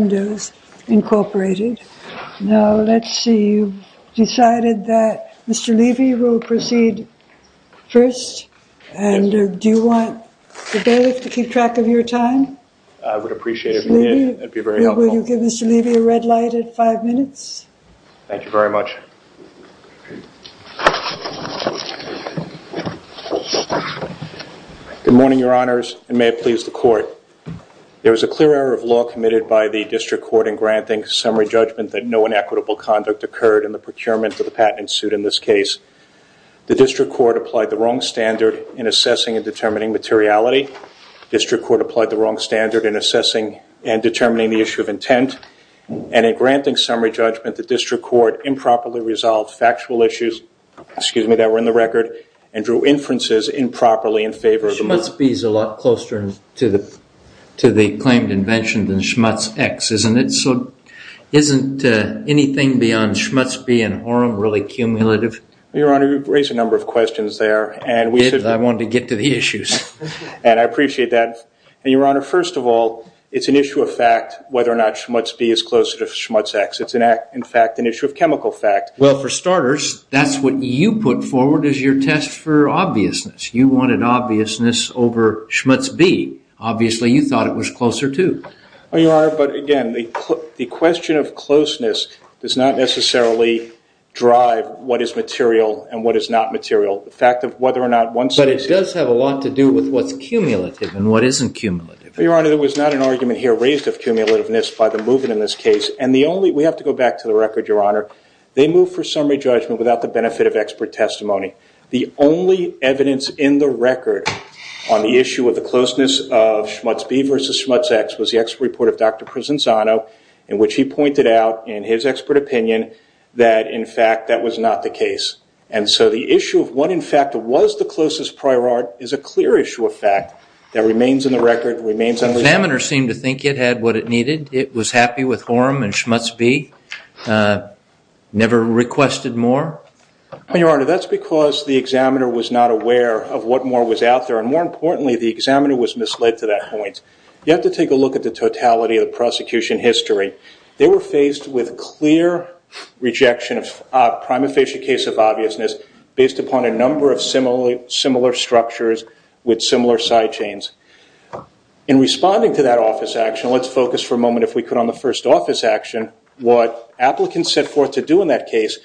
Now, let's see, you've decided that Mr. Levy will proceed first, and do you want the bailiff to keep track of your time? I would appreciate it. That would be very helpful. Mr. Levy, will you give Mr. Levy a red light at five minutes? Thank you very much. Good morning, your honors, and may it please the court. There was a clear error of law committed by the district court in granting summary judgment that no inequitable conduct occurred in the procurement of the patent suit in this case. The district court applied the wrong standard in assessing and determining materiality. District court applied the wrong standard in assessing and determining the issue of intent, and in granting summary judgment, the district court improperly resolved factual issues that were in the record and drew inferences improperly in favor of the money. Schmutz B is a lot closer to the claimed invention than Schmutz X, isn't it? Isn't anything beyond Schmutz B and Aurum really cumulative? Your honor, you've raised a number of questions there, and I wanted to get to the issues, and I appreciate that. And your honor, first of all, it's an issue of fact whether or not Schmutz B is closer to Schmutz X. It's, in fact, an issue of chemical fact. Well, for starters, that's what you put forward as your test for obviousness. You wanted obviousness over Schmutz B. Obviously, you thought it was closer, too. Well, your honor, but again, the question of closeness does not necessarily drive what is material and what is not material. The fact of whether or not one says it. But it does have a lot to do with what's cumulative and what isn't cumulative. Well, your honor, there was not an argument here raised of cumulativeness by the movement in this case. And the only, we have to go back to the record, your honor. They moved for summary judgment without the benefit of expert testimony. The only evidence in the record on the issue of the closeness of Schmutz B versus Schmutz X was the expert report of Dr. Prisanzano, in which he pointed out in his expert opinion that in fact that was not the case. And so the issue of what in fact was the closest prior art is a clear issue of fact that remains in the record, remains unresolved. The examiner seemed to think it had what it needed. It was happy with Horum and Schmutz B, never requested more. Your honor, that's because the examiner was not aware of what more was out there. And more importantly, the examiner was misled to that point. You have to take a look at the totality of the prosecution history. They were faced with clear rejection of prima facie case of obviousness based upon a number of similar structures with similar side chains. In responding to that office action, let's focus for a moment, if we could, on the first office action. What applicants set forth to do in that case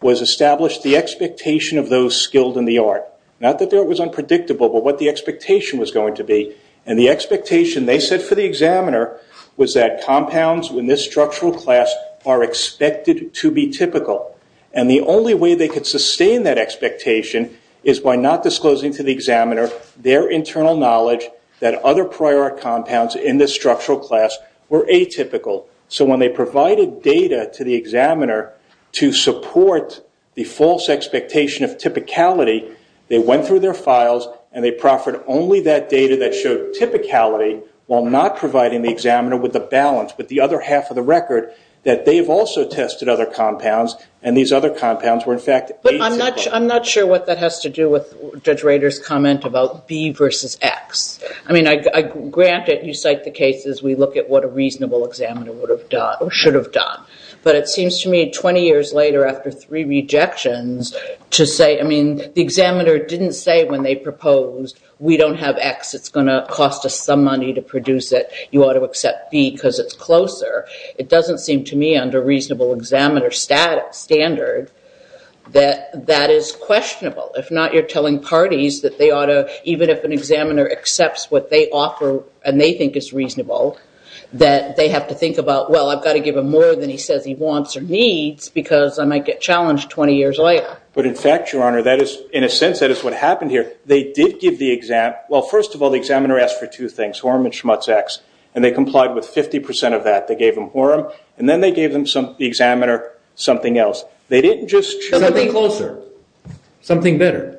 was establish the expectation of those skilled in the art. Not that it was unpredictable, but what the expectation was going to be. And the expectation they set for the examiner was that compounds in this structural class are expected to be typical. And the only way they could sustain that expectation is by not disclosing to the examiner their internal knowledge that other prior art compounds in this structural class were atypical. So when they provided data to the examiner to support the false expectation of typicality, they went through their files and they proffered only that data that showed typicality while not providing the examiner with the balance, with the other half of the record, that they have also tested other compounds and these other compounds were in fact atypical. I'm not sure what that has to do with Judge Rader's comment about B versus X. I mean, granted, you cite the case as we look at what a reasonable examiner would have done or should have done. But it seems to me 20 years later after three rejections to say, I mean, the examiner didn't say when they proposed, we don't have X, it's going to cost us some money to produce it, you ought to accept B because it's closer. It doesn't seem to me under reasonable examiner standard that that is questionable. If not, you're telling parties that they ought to, even if an examiner accepts what they offer and they think is reasonable, that they have to think about, well, I've got to give him more than he says he wants or needs because I might get challenged 20 years later. But in fact, Your Honor, that is, in a sense, that is what happened here. They did give the exam, well, first of all, the examiner asked for two things, Horum and Schmutz X, and they complied with 50% of that. They gave them Horum and then they gave them some, the examiner, something else. They didn't just- Something closer. Something better.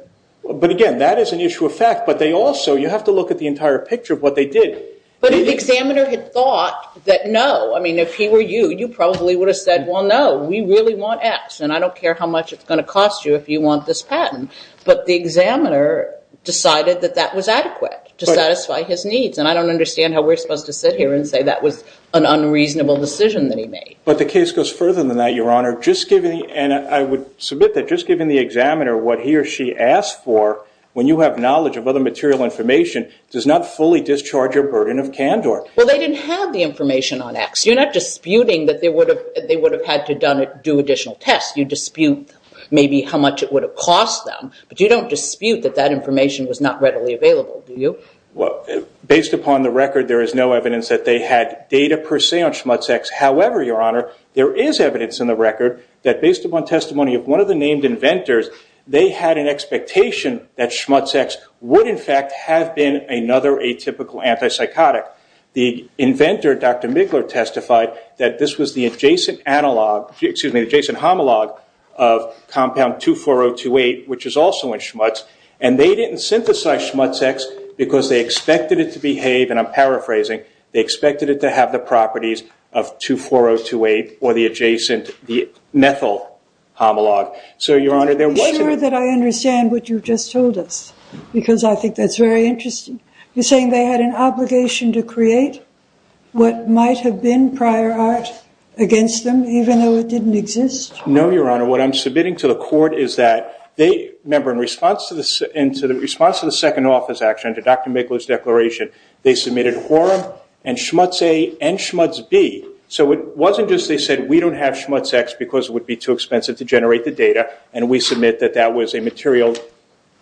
But again, that is an issue of fact, but they also, you have to look at the entire picture of what they did. But if the examiner had thought that, no, I mean, if he were you, you probably would have said, well, no, we really want X and I don't care how much it's going to cost you if you want this patent. But the examiner decided that that was adequate to satisfy his needs and I don't understand how we're supposed to sit here and say that was an unreasonable decision that he made. But the case goes further than that, Your Honor. And I would submit that just given the examiner what he or she asked for, when you have knowledge of other material information, does not fully discharge your burden of candor. Well, they didn't have the information on X. You're not disputing that they would have had to do additional tests. You dispute maybe how much it would have cost them, but you don't dispute that that information was not readily available, do you? Based upon the record, there is no evidence that they had data per se on Schmutz X. However, Your Honor, there is evidence in the record that based upon testimony of one of the named inventors, they had an expectation that Schmutz X would, in fact, have been another atypical antipsychotic. The inventor, Dr. Migler, testified that this was the adjacent homologue of compound 24028, which is also in Schmutz. And they didn't synthesize Schmutz X because they expected it to behave, and I'm paraphrasing, they expected it to have the properties of 24028 or the adjacent, the methyl homologue. So, Your Honor, there wasn't- Are you sure that I understand what you've just told us? Because I think that's very interesting. You're saying they had an obligation to create what might have been prior art against them, even though it didn't exist? No, Your Honor. What I'm submitting to the court is that they, remember, in response to the second office action, to Dr. Migler's declaration, they submitted Horum and Schmutz A and Schmutz B. So it wasn't just they said, we don't have Schmutz X because it would be too expensive to generate the data, and we submit that that was a material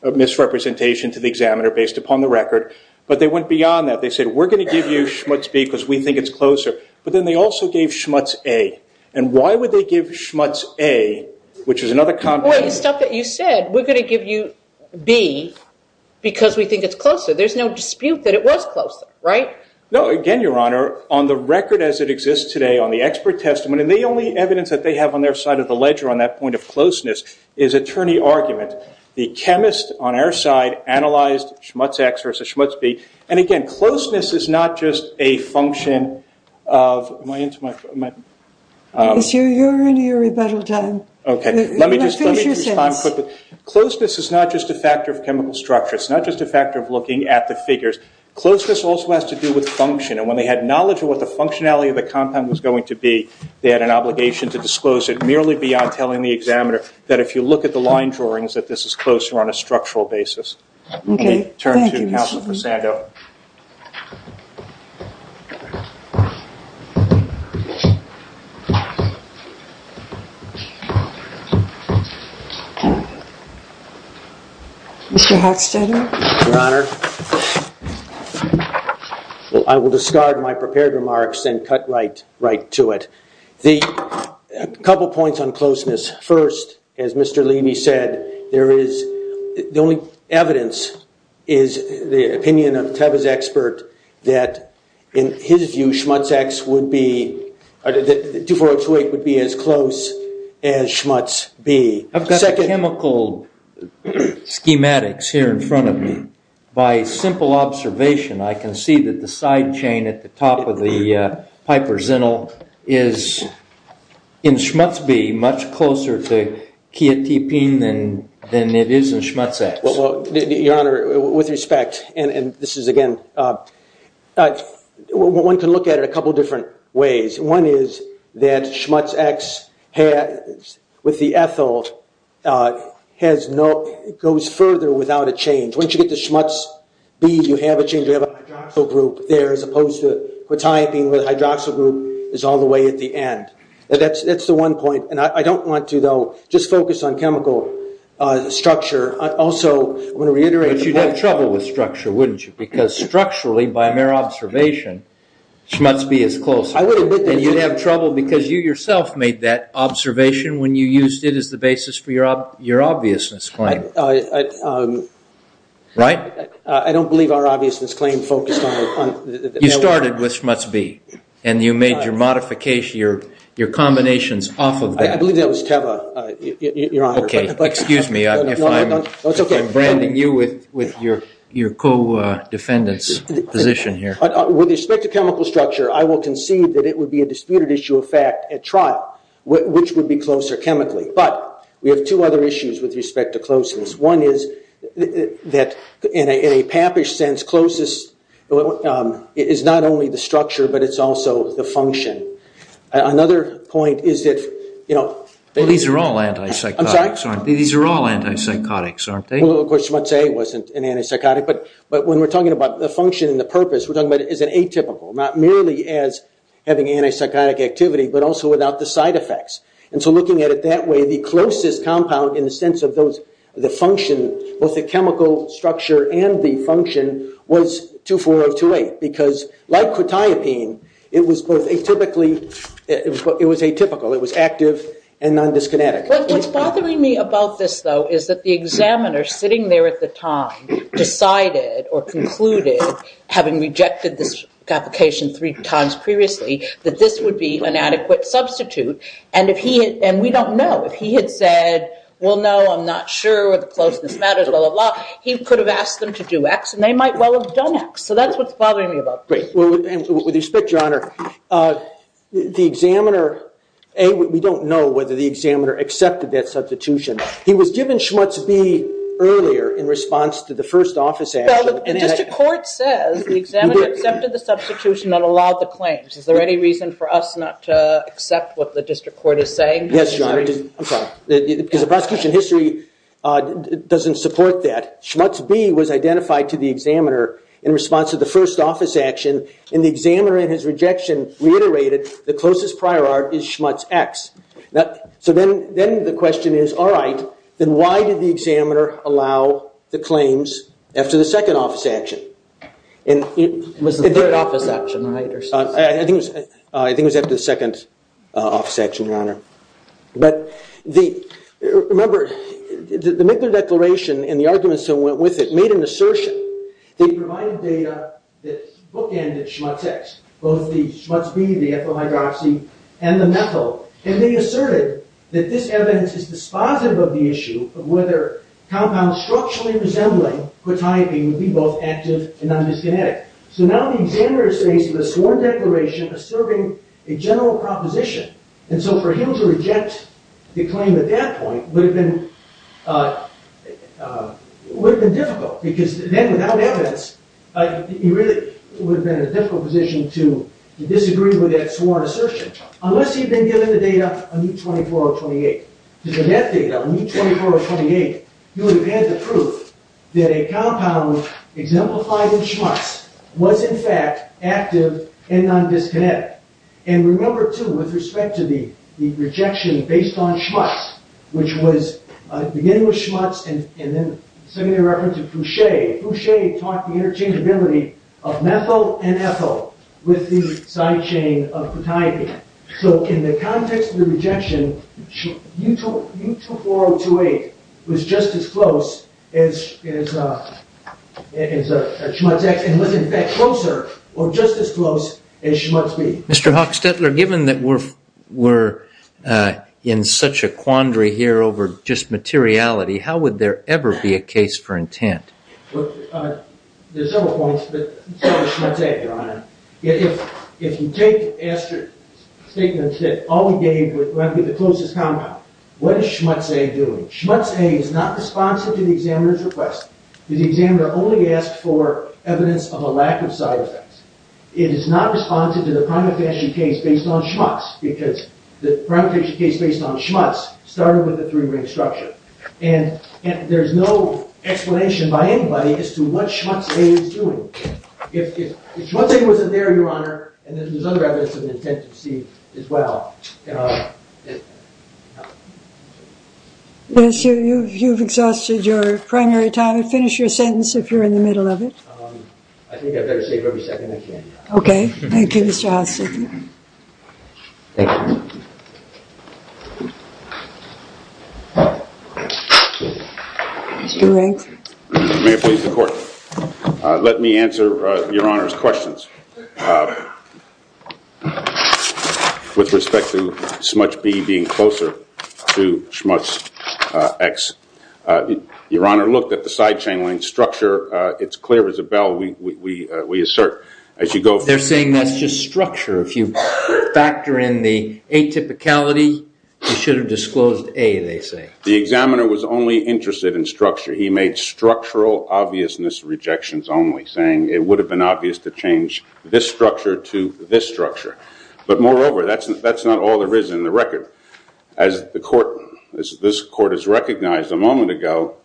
misrepresentation to the examiner based upon the record. But they went beyond that. They said, we're going to give you Schmutz B because we think it's closer. But then they also gave Schmutz A. And why would they give Schmutz A, which is another compound- No, but the stuff that you said, we're going to give you B because we think it's closer. There's no dispute that it was closer, right? No, again, Your Honor, on the record as it exists today on the expert testament, and the only evidence that they have on their side of the ledger on that point of closeness is attorney argument. The chemist on our side analyzed Schmutz X versus Schmutz B. And again, closeness is not just a function of my intimate, my, um- Yes, Your Honor, you're in your rebuttal time. Okay. Let me just- Finish your sentence. Closeness is not just a factor of chemical structure. It's not just a factor of looking at the figures. Closeness also has to do with function. And when they had knowledge of what the functionality of the compound was going to be, they had an obligation to disclose it merely beyond telling the examiner that if you look at the line drawings that this is closer on a structural basis. Okay. Thank you. Thank you, counsel Posado. Mr. Hofstadter? Your Honor, I will discard my prepared remarks and cut right to it. A couple points on closeness. First, as Mr. Levy said, there is- the only evidence is the opinion of Tebba's expert that in his view, Schmutz X would be- 24028 would be as close as Schmutz B. I've got the chemical schematics here in front of me. By simple observation, I can see that the side chain at the top of the Piper Zinnel is, in Schmutz B, much closer to chiatepine than it is in Schmutz X. Well, Your Honor, with respect, and this is again- one can look at it a couple different ways. One is that Schmutz X with the ethyl has no- goes further without a change. Once you get to Schmutz B, you have a change, you have a hydroxyl group there as opposed to chiatepine where the hydroxyl group is all the way at the end. That's the one point. And I don't want to, though, just focus on chemical structure. Also, I'm going to reiterate- But you'd have trouble with structure, wouldn't you? Because structurally, by mere observation, Schmutz B is closer. I would admit that- And you'd have trouble because you yourself made that observation when you used it as the basis for your obviousness claim, right? I don't believe our obviousness claim focused on- You started with Schmutz B, and you made your modifications, your combinations off of that. I believe that was Teva, Your Honor. Okay. Excuse me if I'm branding you with your co-defendant's position here. With respect to chemical structure, I will concede that it would be a disputed issue of fact at trial, which would be closer chemically. But we have two other issues with respect to closeness. One is that, in a pappish sense, closest is not only the structure, but it's also the function. Another point is that- These are all anti-psychotics, aren't they? These are all anti-psychotics, aren't they? Well, of course, Schmutz A wasn't an anti-psychotic. But when we're talking about the function and the purpose, we're talking about it as an atypical, not merely as having anti-psychotic activity, but also without the side effects. So looking at it that way, the closest compound in the sense of the function, both the chemical structure and the function, was 2,4 of 2,8. Because like cortiopine, it was both atypically- It was atypical. It was active and non-dyskinetic. What's bothering me about this, though, is that the examiner sitting there at the time decided or concluded, having rejected this application three times previously, that this would be an adequate substitute. And we don't know. If he had said, well, no, I'm not sure, the closeness matters, blah, blah, blah, he could have asked them to do X, and they might well have done X. So that's what's bothering me about this. With respect, Your Honor, the examiner- A, we don't know whether the examiner accepted that substitution. He was given Schmutz B earlier in response to the first office action. Well, the district court says the examiner accepted the substitution and allowed the claims. Is there any reason for us not to accept what the district court is saying? Yes, Your Honor. I'm sorry. Because the prosecution history doesn't support that. Schmutz B was identified to the examiner in response to the first office action, and the examiner in his rejection reiterated, the closest prior art is Schmutz X. So then the question is, all right, then why did the examiner allow the claims after the second office action? It was the third office action, right? I think it was after the second office action, Your Honor. But remember, the Migler Declaration and the arguments that went with it made an assertion. They provided data that bookended Schmutz X, both the Schmutz B, the ethyl hydroxy, and the methyl, and they asserted that this evidence is dispositive of the issue of whether compounds structurally resembling quetiapine would be both active and non-miskinetic. So now the examiner is faced with a sworn declaration asserting a general proposition. And so for him to reject the claim at that point would have been difficult, because then without evidence, he really would have been in a difficult position to disagree with that sworn assertion, unless he had been given the data on E24 or 28. If he had been given the data on E24 or 28, he would have had the proof that a compound exemplified in Schmutz was, in fact, active and non-miskinetic. And remember, too, with respect to the rejection based on Schmutz, which was beginning with Schmutz and then sending a reference to Foucher, Foucher taught the interchangeability of methyl and ethyl with the side chain of quetiapine. So in the context of the rejection, E24 or 28 was just as close as Schmutz X, and was, in fact, closer, or just as close as Schmutz B. Mr. Hochstetler, given that we're in such a quandary here over just materiality, how would there ever be a case for intent? Well, there's several points, but let's start with Schmutz A, Your Honor. If you take Aster's statement that all we gave would likely be the closest compound, what is Schmutz A doing? Schmutz A is not responsive to the examiner's request. The examiner only asked for evidence of a lack of side effects. It is not responsive to the prima facie case based on Schmutz, because the prima facie case based on Schmutz started with the three-ring structure. And there's no explanation by anybody as to what Schmutz A is doing. If Schmutz A wasn't there, Your Honor, and there's other evidence of an intent to see as well, it's not. Yes, you've exhausted your primary time. Finish your sentence if you're in the middle of it. I think I'd better save every second I can. OK. Thank you, Mr. Hochstetler. Thank you. Mr. Rank. May it please the court. Let me answer Your Honor's questions with respect to Schmutz B being closer to Schmutz X. Your Honor looked at the side chain link structure. It's clear, Isabel, we assert as you go. They're saying that's just structure. If you factor in the atypicality, you should have disclosed A, they say. The examiner was only interested in structure. He made structural obviousness rejections only, saying it would have been obvious to change this structure to this structure. But moreover, that's not all there is in the record. As this court has recognized a moment ago,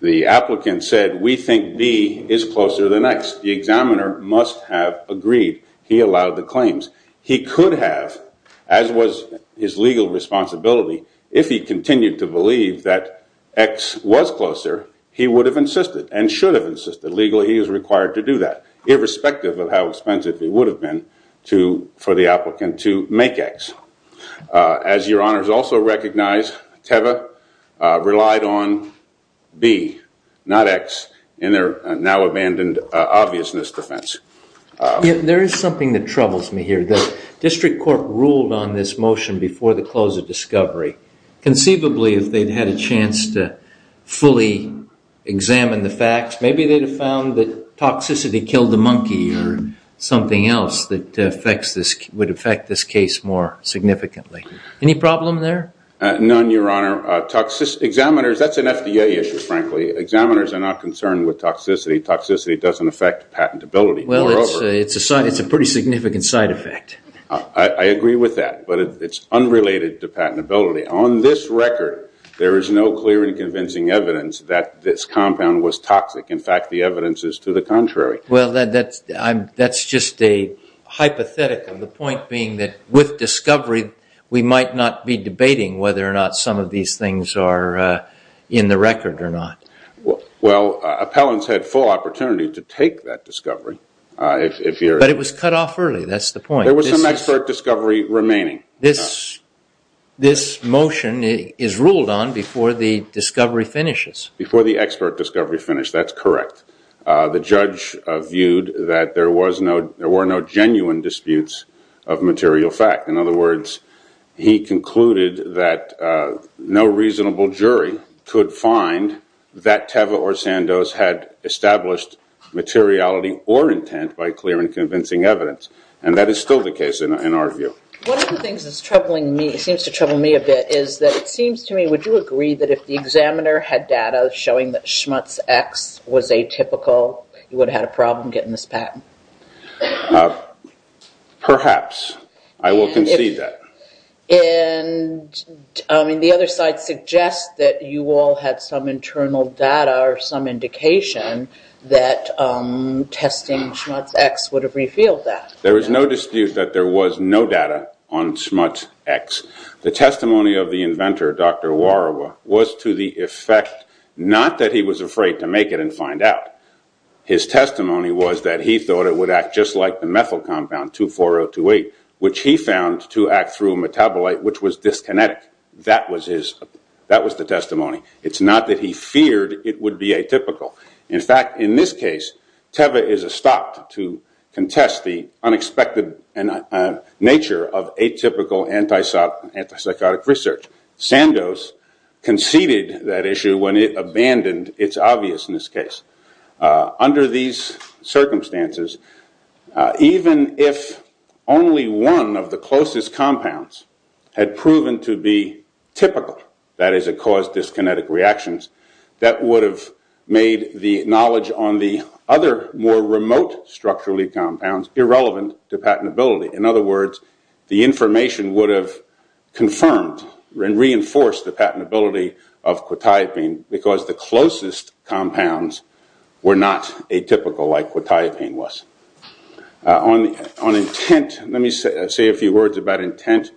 the applicant said, we think B is closer to the next. The examiner must have agreed. He allowed the claims. He could have, as was his legal responsibility, if he continued to believe that X was closer, he would have insisted and should have insisted. Legally, he is required to do that, irrespective of how expensive it would have been for the applicant to make X. As Your Honors also recognize, Teva relied on B, not X, in their now-abandoned obviousness defense. There is something that troubles me here. The district court ruled on this motion before the close of discovery. Conceivably, if they'd had a chance to fully examine the facts, maybe they'd have found that toxicity killed the monkey or something else that would affect this case more significantly. Any problem there? None, Your Honor. Examiners, that's an FDA issue, frankly. Examiners are not concerned with toxicity. Toxicity doesn't affect patentability. Well, it's a pretty significant side effect. I agree with that, but it's unrelated to patentability. On this record, there is no clear and convincing evidence that this compound was toxic. In fact, the evidence is to the contrary. That's just a hypothetical, the point being that with discovery, we might not be debating whether or not some of these things are in the record or not. Well, appellants had full opportunity to take that discovery. But it was cut off early. That's the point. There was some expert discovery remaining. This motion is ruled on before the discovery finishes. Before the expert discovery finished, that's correct. The judge viewed that there were no genuine disputes of material fact. In other words, he concluded that no reasonable jury could find that Teva or Sandoz had established materiality or intent by clear and convincing evidence. That is still the case in our view. One of the things that seems to trouble me a bit is that it seems to me, would you agree that if the examiner had data showing that Schmutz X was atypical, you would have had a problem getting this patent? Perhaps. I will concede that. The other side suggests that you all had some internal data or some indication that testing Schmutz X would have revealed that. There is no dispute that there was no data on Schmutz X. The testimony of the inventor, Dr. Warawa, was to the effect not that he was afraid to make it and find out. His testimony was that he thought it would act just like the methyl compound, 24028, which he found to act through metabolite, which was dyskinetic. That was the testimony. It's not that he feared it would be atypical. In fact, in this case, Teva is a stop to contest the unexpected nature of atypical anti-psychotic research. Sandos conceded that issue when it abandoned its obviousness case. Under these circumstances, even if only one of the closest compounds had proven to be typical, that is, it caused dyskinetic reactions, that would have made the knowledge on the other more remote structural compounds irrelevant to patentability. In other words, the information would have confirmed and reinforced the patentability of quetiapine because the closest compounds were not atypical like quetiapine was. On intent, let me say a few words about intent.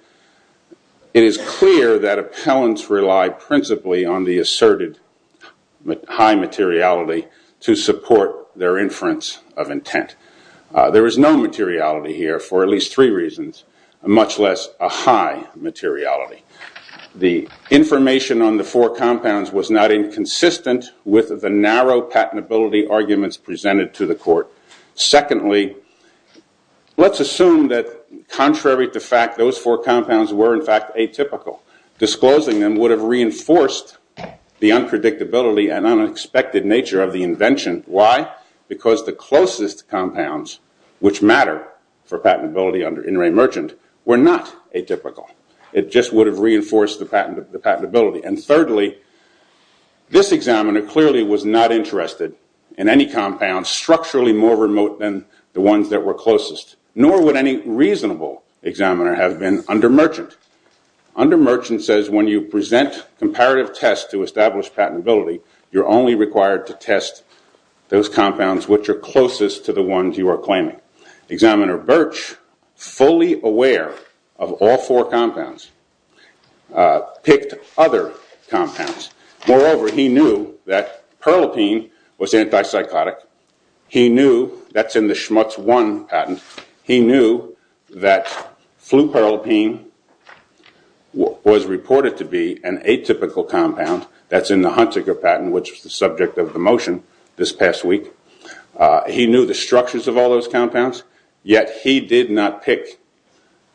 It is clear that appellants rely principally on the asserted high materiality to support their inference of intent. There is no materiality here for at least three reasons, much less a high materiality. The information on the four compounds was not inconsistent with the narrow patentability arguments presented to the court. Secondly, let's assume that contrary to fact, those four compounds were in fact atypical. Disclosing them would have reinforced the unpredictability and unexpected nature of the invention. Why? Why? Because the closest compounds, which matter for patentability under in-ray merchant, were not atypical. It just would have reinforced the patentability. Thirdly, this examiner clearly was not interested in any compounds structurally more remote than the ones that were closest, nor would any reasonable examiner have been under merchant. Under merchant says when you present comparative tests to establish patentability, you're only required to test those compounds which are closest to the ones you are claiming. Examiner Birch, fully aware of all four compounds, picked other compounds. Moreover, he knew that Perlopine was antipsychotic. He knew that's in the Schmutz 1 patent. He knew that fluperlopine was reported to be an atypical compound. That's in the Hunziker patent, which was the subject of the motion this past week. He knew the structures of all those compounds, yet he did not pick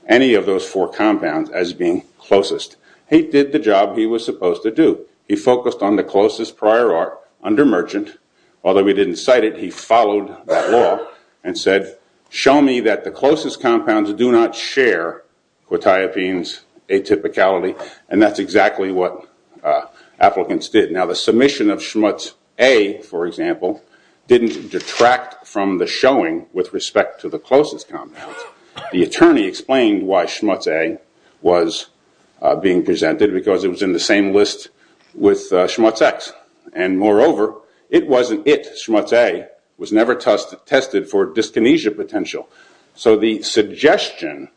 any of those four compounds as being closest. He did the job he was supposed to do. He focused on the closest prior art under merchant. Although he didn't cite it, he followed that law and said, show me that the closest compounds do not share quetiapine's atypicality. That's exactly what applicants did. The submission of Schmutz A, for example, didn't detract from the showing with respect to the closest compounds. The attorney explained why Schmutz A was being presented because it was in the same list with Schmutz X. Moreover, it wasn't it, Schmutz A was never tested for dyskinesia potential. The suggestion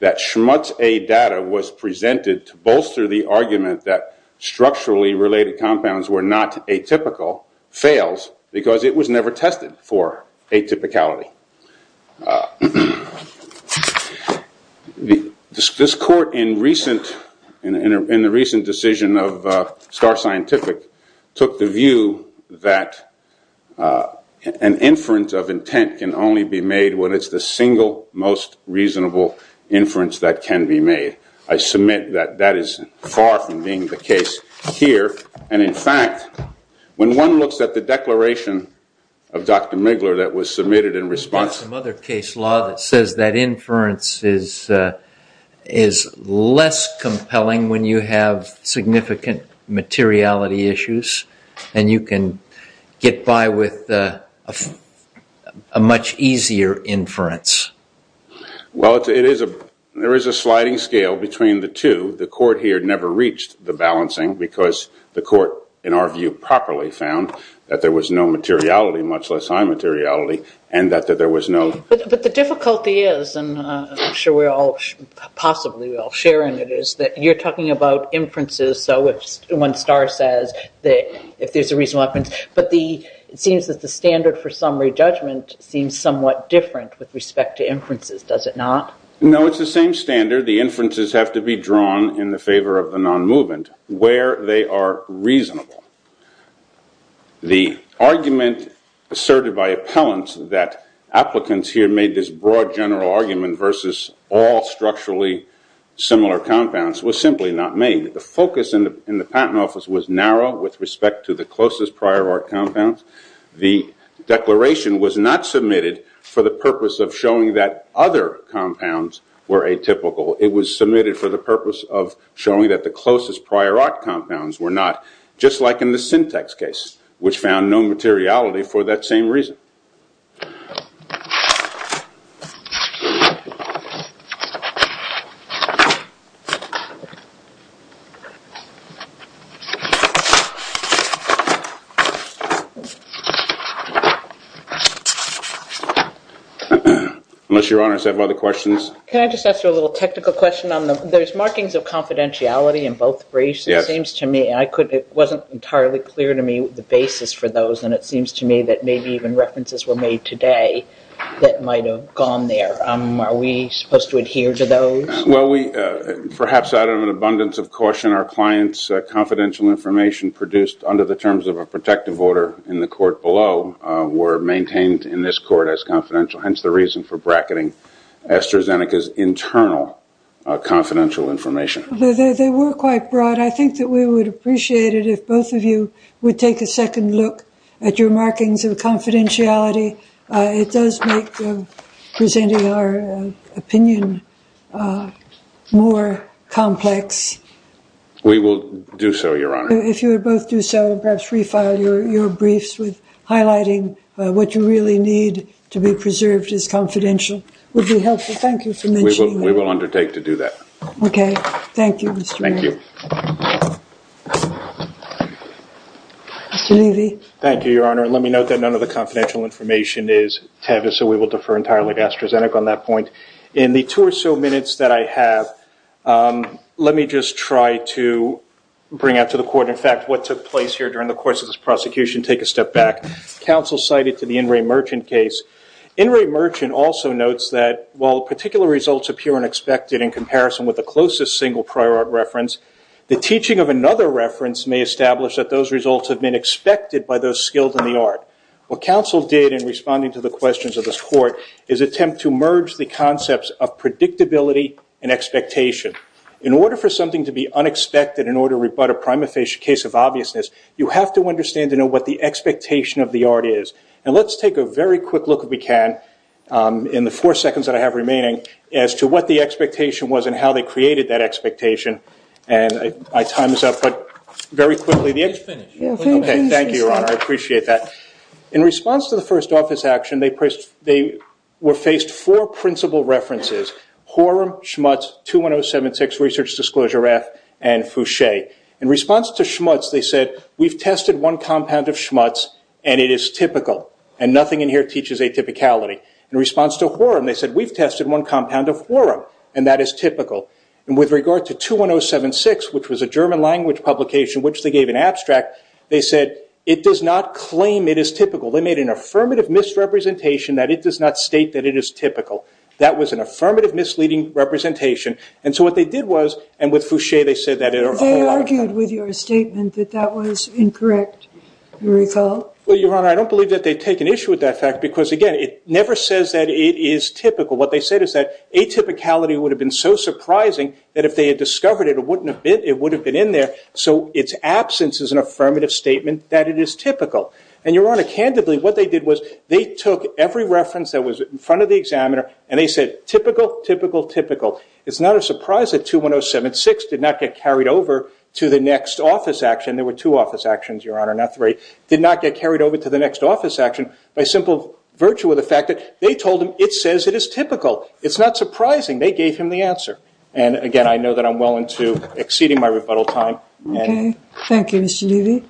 that Schmutz A data was presented to bolster the argument that structurally related compounds were not atypical fails because it was never tested for atypicality. This court in the recent decision of Star Scientific took the view that an inference of intent can only be made when it's the single most reasonable inference that can be made. I submit that that is far from being the case here. And in fact, when one looks at the declaration of Dr. Migler that was submitted in response to some other case law that says that inference is less compelling when you have significant materiality issues and you can get by with a much easier inference. Well it is a, there is a sliding scale between the two. The court here never reached the balancing because the court, in our view, properly found that there was no materiality, much less high materiality, and that there was no. But the difficulty is, and I'm sure we're all, possibly we're all sharing it, is that you're talking about inferences. So when Star says that if there's a reasonable inference, but the, it seems that the standard for summary judgment seems somewhat different with respect to inferences, does it not? No, it's the same standard. The inferences have to be drawn in the favor of the non-movement where they are reasonable. The argument asserted by appellants that applicants here made this broad general argument versus all structurally similar compounds was simply not made. The focus in the patent office was narrow with respect to the closest prior art compounds. The declaration was not submitted for the purpose of showing that other compounds were atypical. It was submitted for the purpose of showing that the closest prior art compounds were in the syntax case, which found no materiality for that same reason. Unless your honors have other questions. Can I just ask you a little technical question on the, there's markings of confidentiality in both briefs. Yes. It seems to me, I couldn't, it wasn't entirely clear to me the basis for those and it seems to me that maybe even references were made today that might have gone there. Are we supposed to adhere to those? Well we, perhaps out of an abundance of caution, our client's confidential information produced under the terms of a protective order in the court below were maintained in this court as confidential. Hence the reason for bracketing Esther Zeneca's internal confidential information. They were quite broad. But I think that we would appreciate it if both of you would take a second look at your markings of confidentiality. It does make presenting our opinion more complex. We will do so, your honor. If you would both do so, perhaps refile your briefs with highlighting what you really need to be preserved as confidential. Would be helpful. Thank you for mentioning that. We will undertake to do that. Okay. Thank you, Mr. Mayor. Thank you. Mr. Levy. Thank you, your honor. And let me note that none of the confidential information is Tavis, so we will defer entirely to Esther Zeneca on that point. In the two or so minutes that I have, let me just try to bring out to the court in fact what took place here during the course of this prosecution, take a step back. Counsel cited to the In Re Merchant case. In Re Merchant also notes that while particular results appear unexpected in comparison with the closest single prior art reference, the teaching of another reference may establish that those results have been expected by those skilled in the art. What counsel did in responding to the questions of this court is attempt to merge the concepts of predictability and expectation. In order for something to be unexpected in order to rebut a prima facie case of obviousness, you have to understand and know what the expectation of the art is. And let's take a very quick look, if we can, in the four seconds that I have remaining, as to what the expectation was and how they created that expectation. And my time is up, but very quickly, thank you, Your Honor, I appreciate that. In response to the first office action, they were faced four principal references, Horum, Schmutz, 21076, Research Disclosure Act, and Fouché. In response to Schmutz, they said, we've tested one compound of Schmutz and it is typical, and nothing in here teaches atypicality. In response to Horum, they said, we've tested one compound of Horum, and that is typical. And with regard to 21076, which was a German language publication, which they gave in abstract, they said, it does not claim it is typical. They made an affirmative misrepresentation that it does not state that it is typical. That was an affirmative misleading representation. And so what they did was, and with Fouché, they said that it argued with your statement that that was incorrect, you recall? Well, Your Honor, I don't believe that they take an issue with that fact, because again, it never says that it is typical. What they said is that atypicality would have been so surprising that if they had discovered it, it wouldn't have been, it would have been in there. So its absence is an affirmative statement that it is typical. And Your Honor, candidly, what they did was they took every reference that was in front of the examiner, and they said, typical, typical, typical. It's not a surprise that 21076 did not get carried over to the next office action. There were two office actions, Your Honor, not three. Did not get carried over to the next office action by simple virtue of the fact that they told him it says it is typical. It's not surprising. They gave him the answer. And again, I know that I'm well into exceeding my rebuttal time. Okay, thank you, Mr. Levy.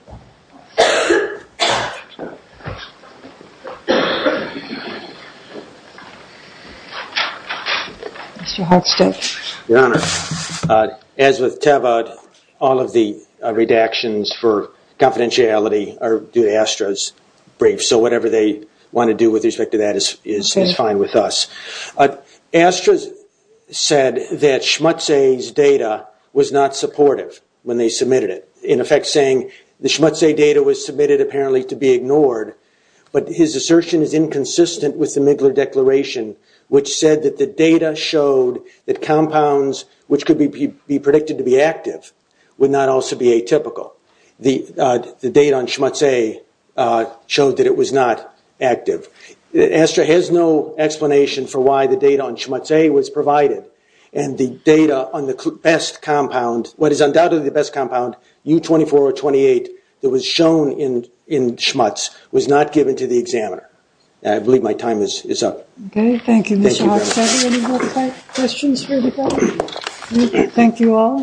Mr. Holstead. Your Honor, as with Tevod, all of the redactions for confidentiality are due to ASTRA's brief. So whatever they want to do with respect to that is fine with us. ASTRA said that Schmutzay's data was not supportive when they submitted it. In effect, saying the Schmutzay data was submitted apparently to be ignored, but his assertion is inconsistent with the Migler Declaration, which said that the data showed that compounds, which could be predicted to be active, would not also be atypical. The data on Schmutzay showed that it was not active. ASTRA has no explanation for why the data on Schmutzay was provided. And the data on the best compound, what is undoubtedly the best compound, U24 or 28, that was shown in Schmutz, was not given to the examiner. I believe my time is up. Okay, thank you, Mr. Holstead. Any more questions for the judge? Thank you all.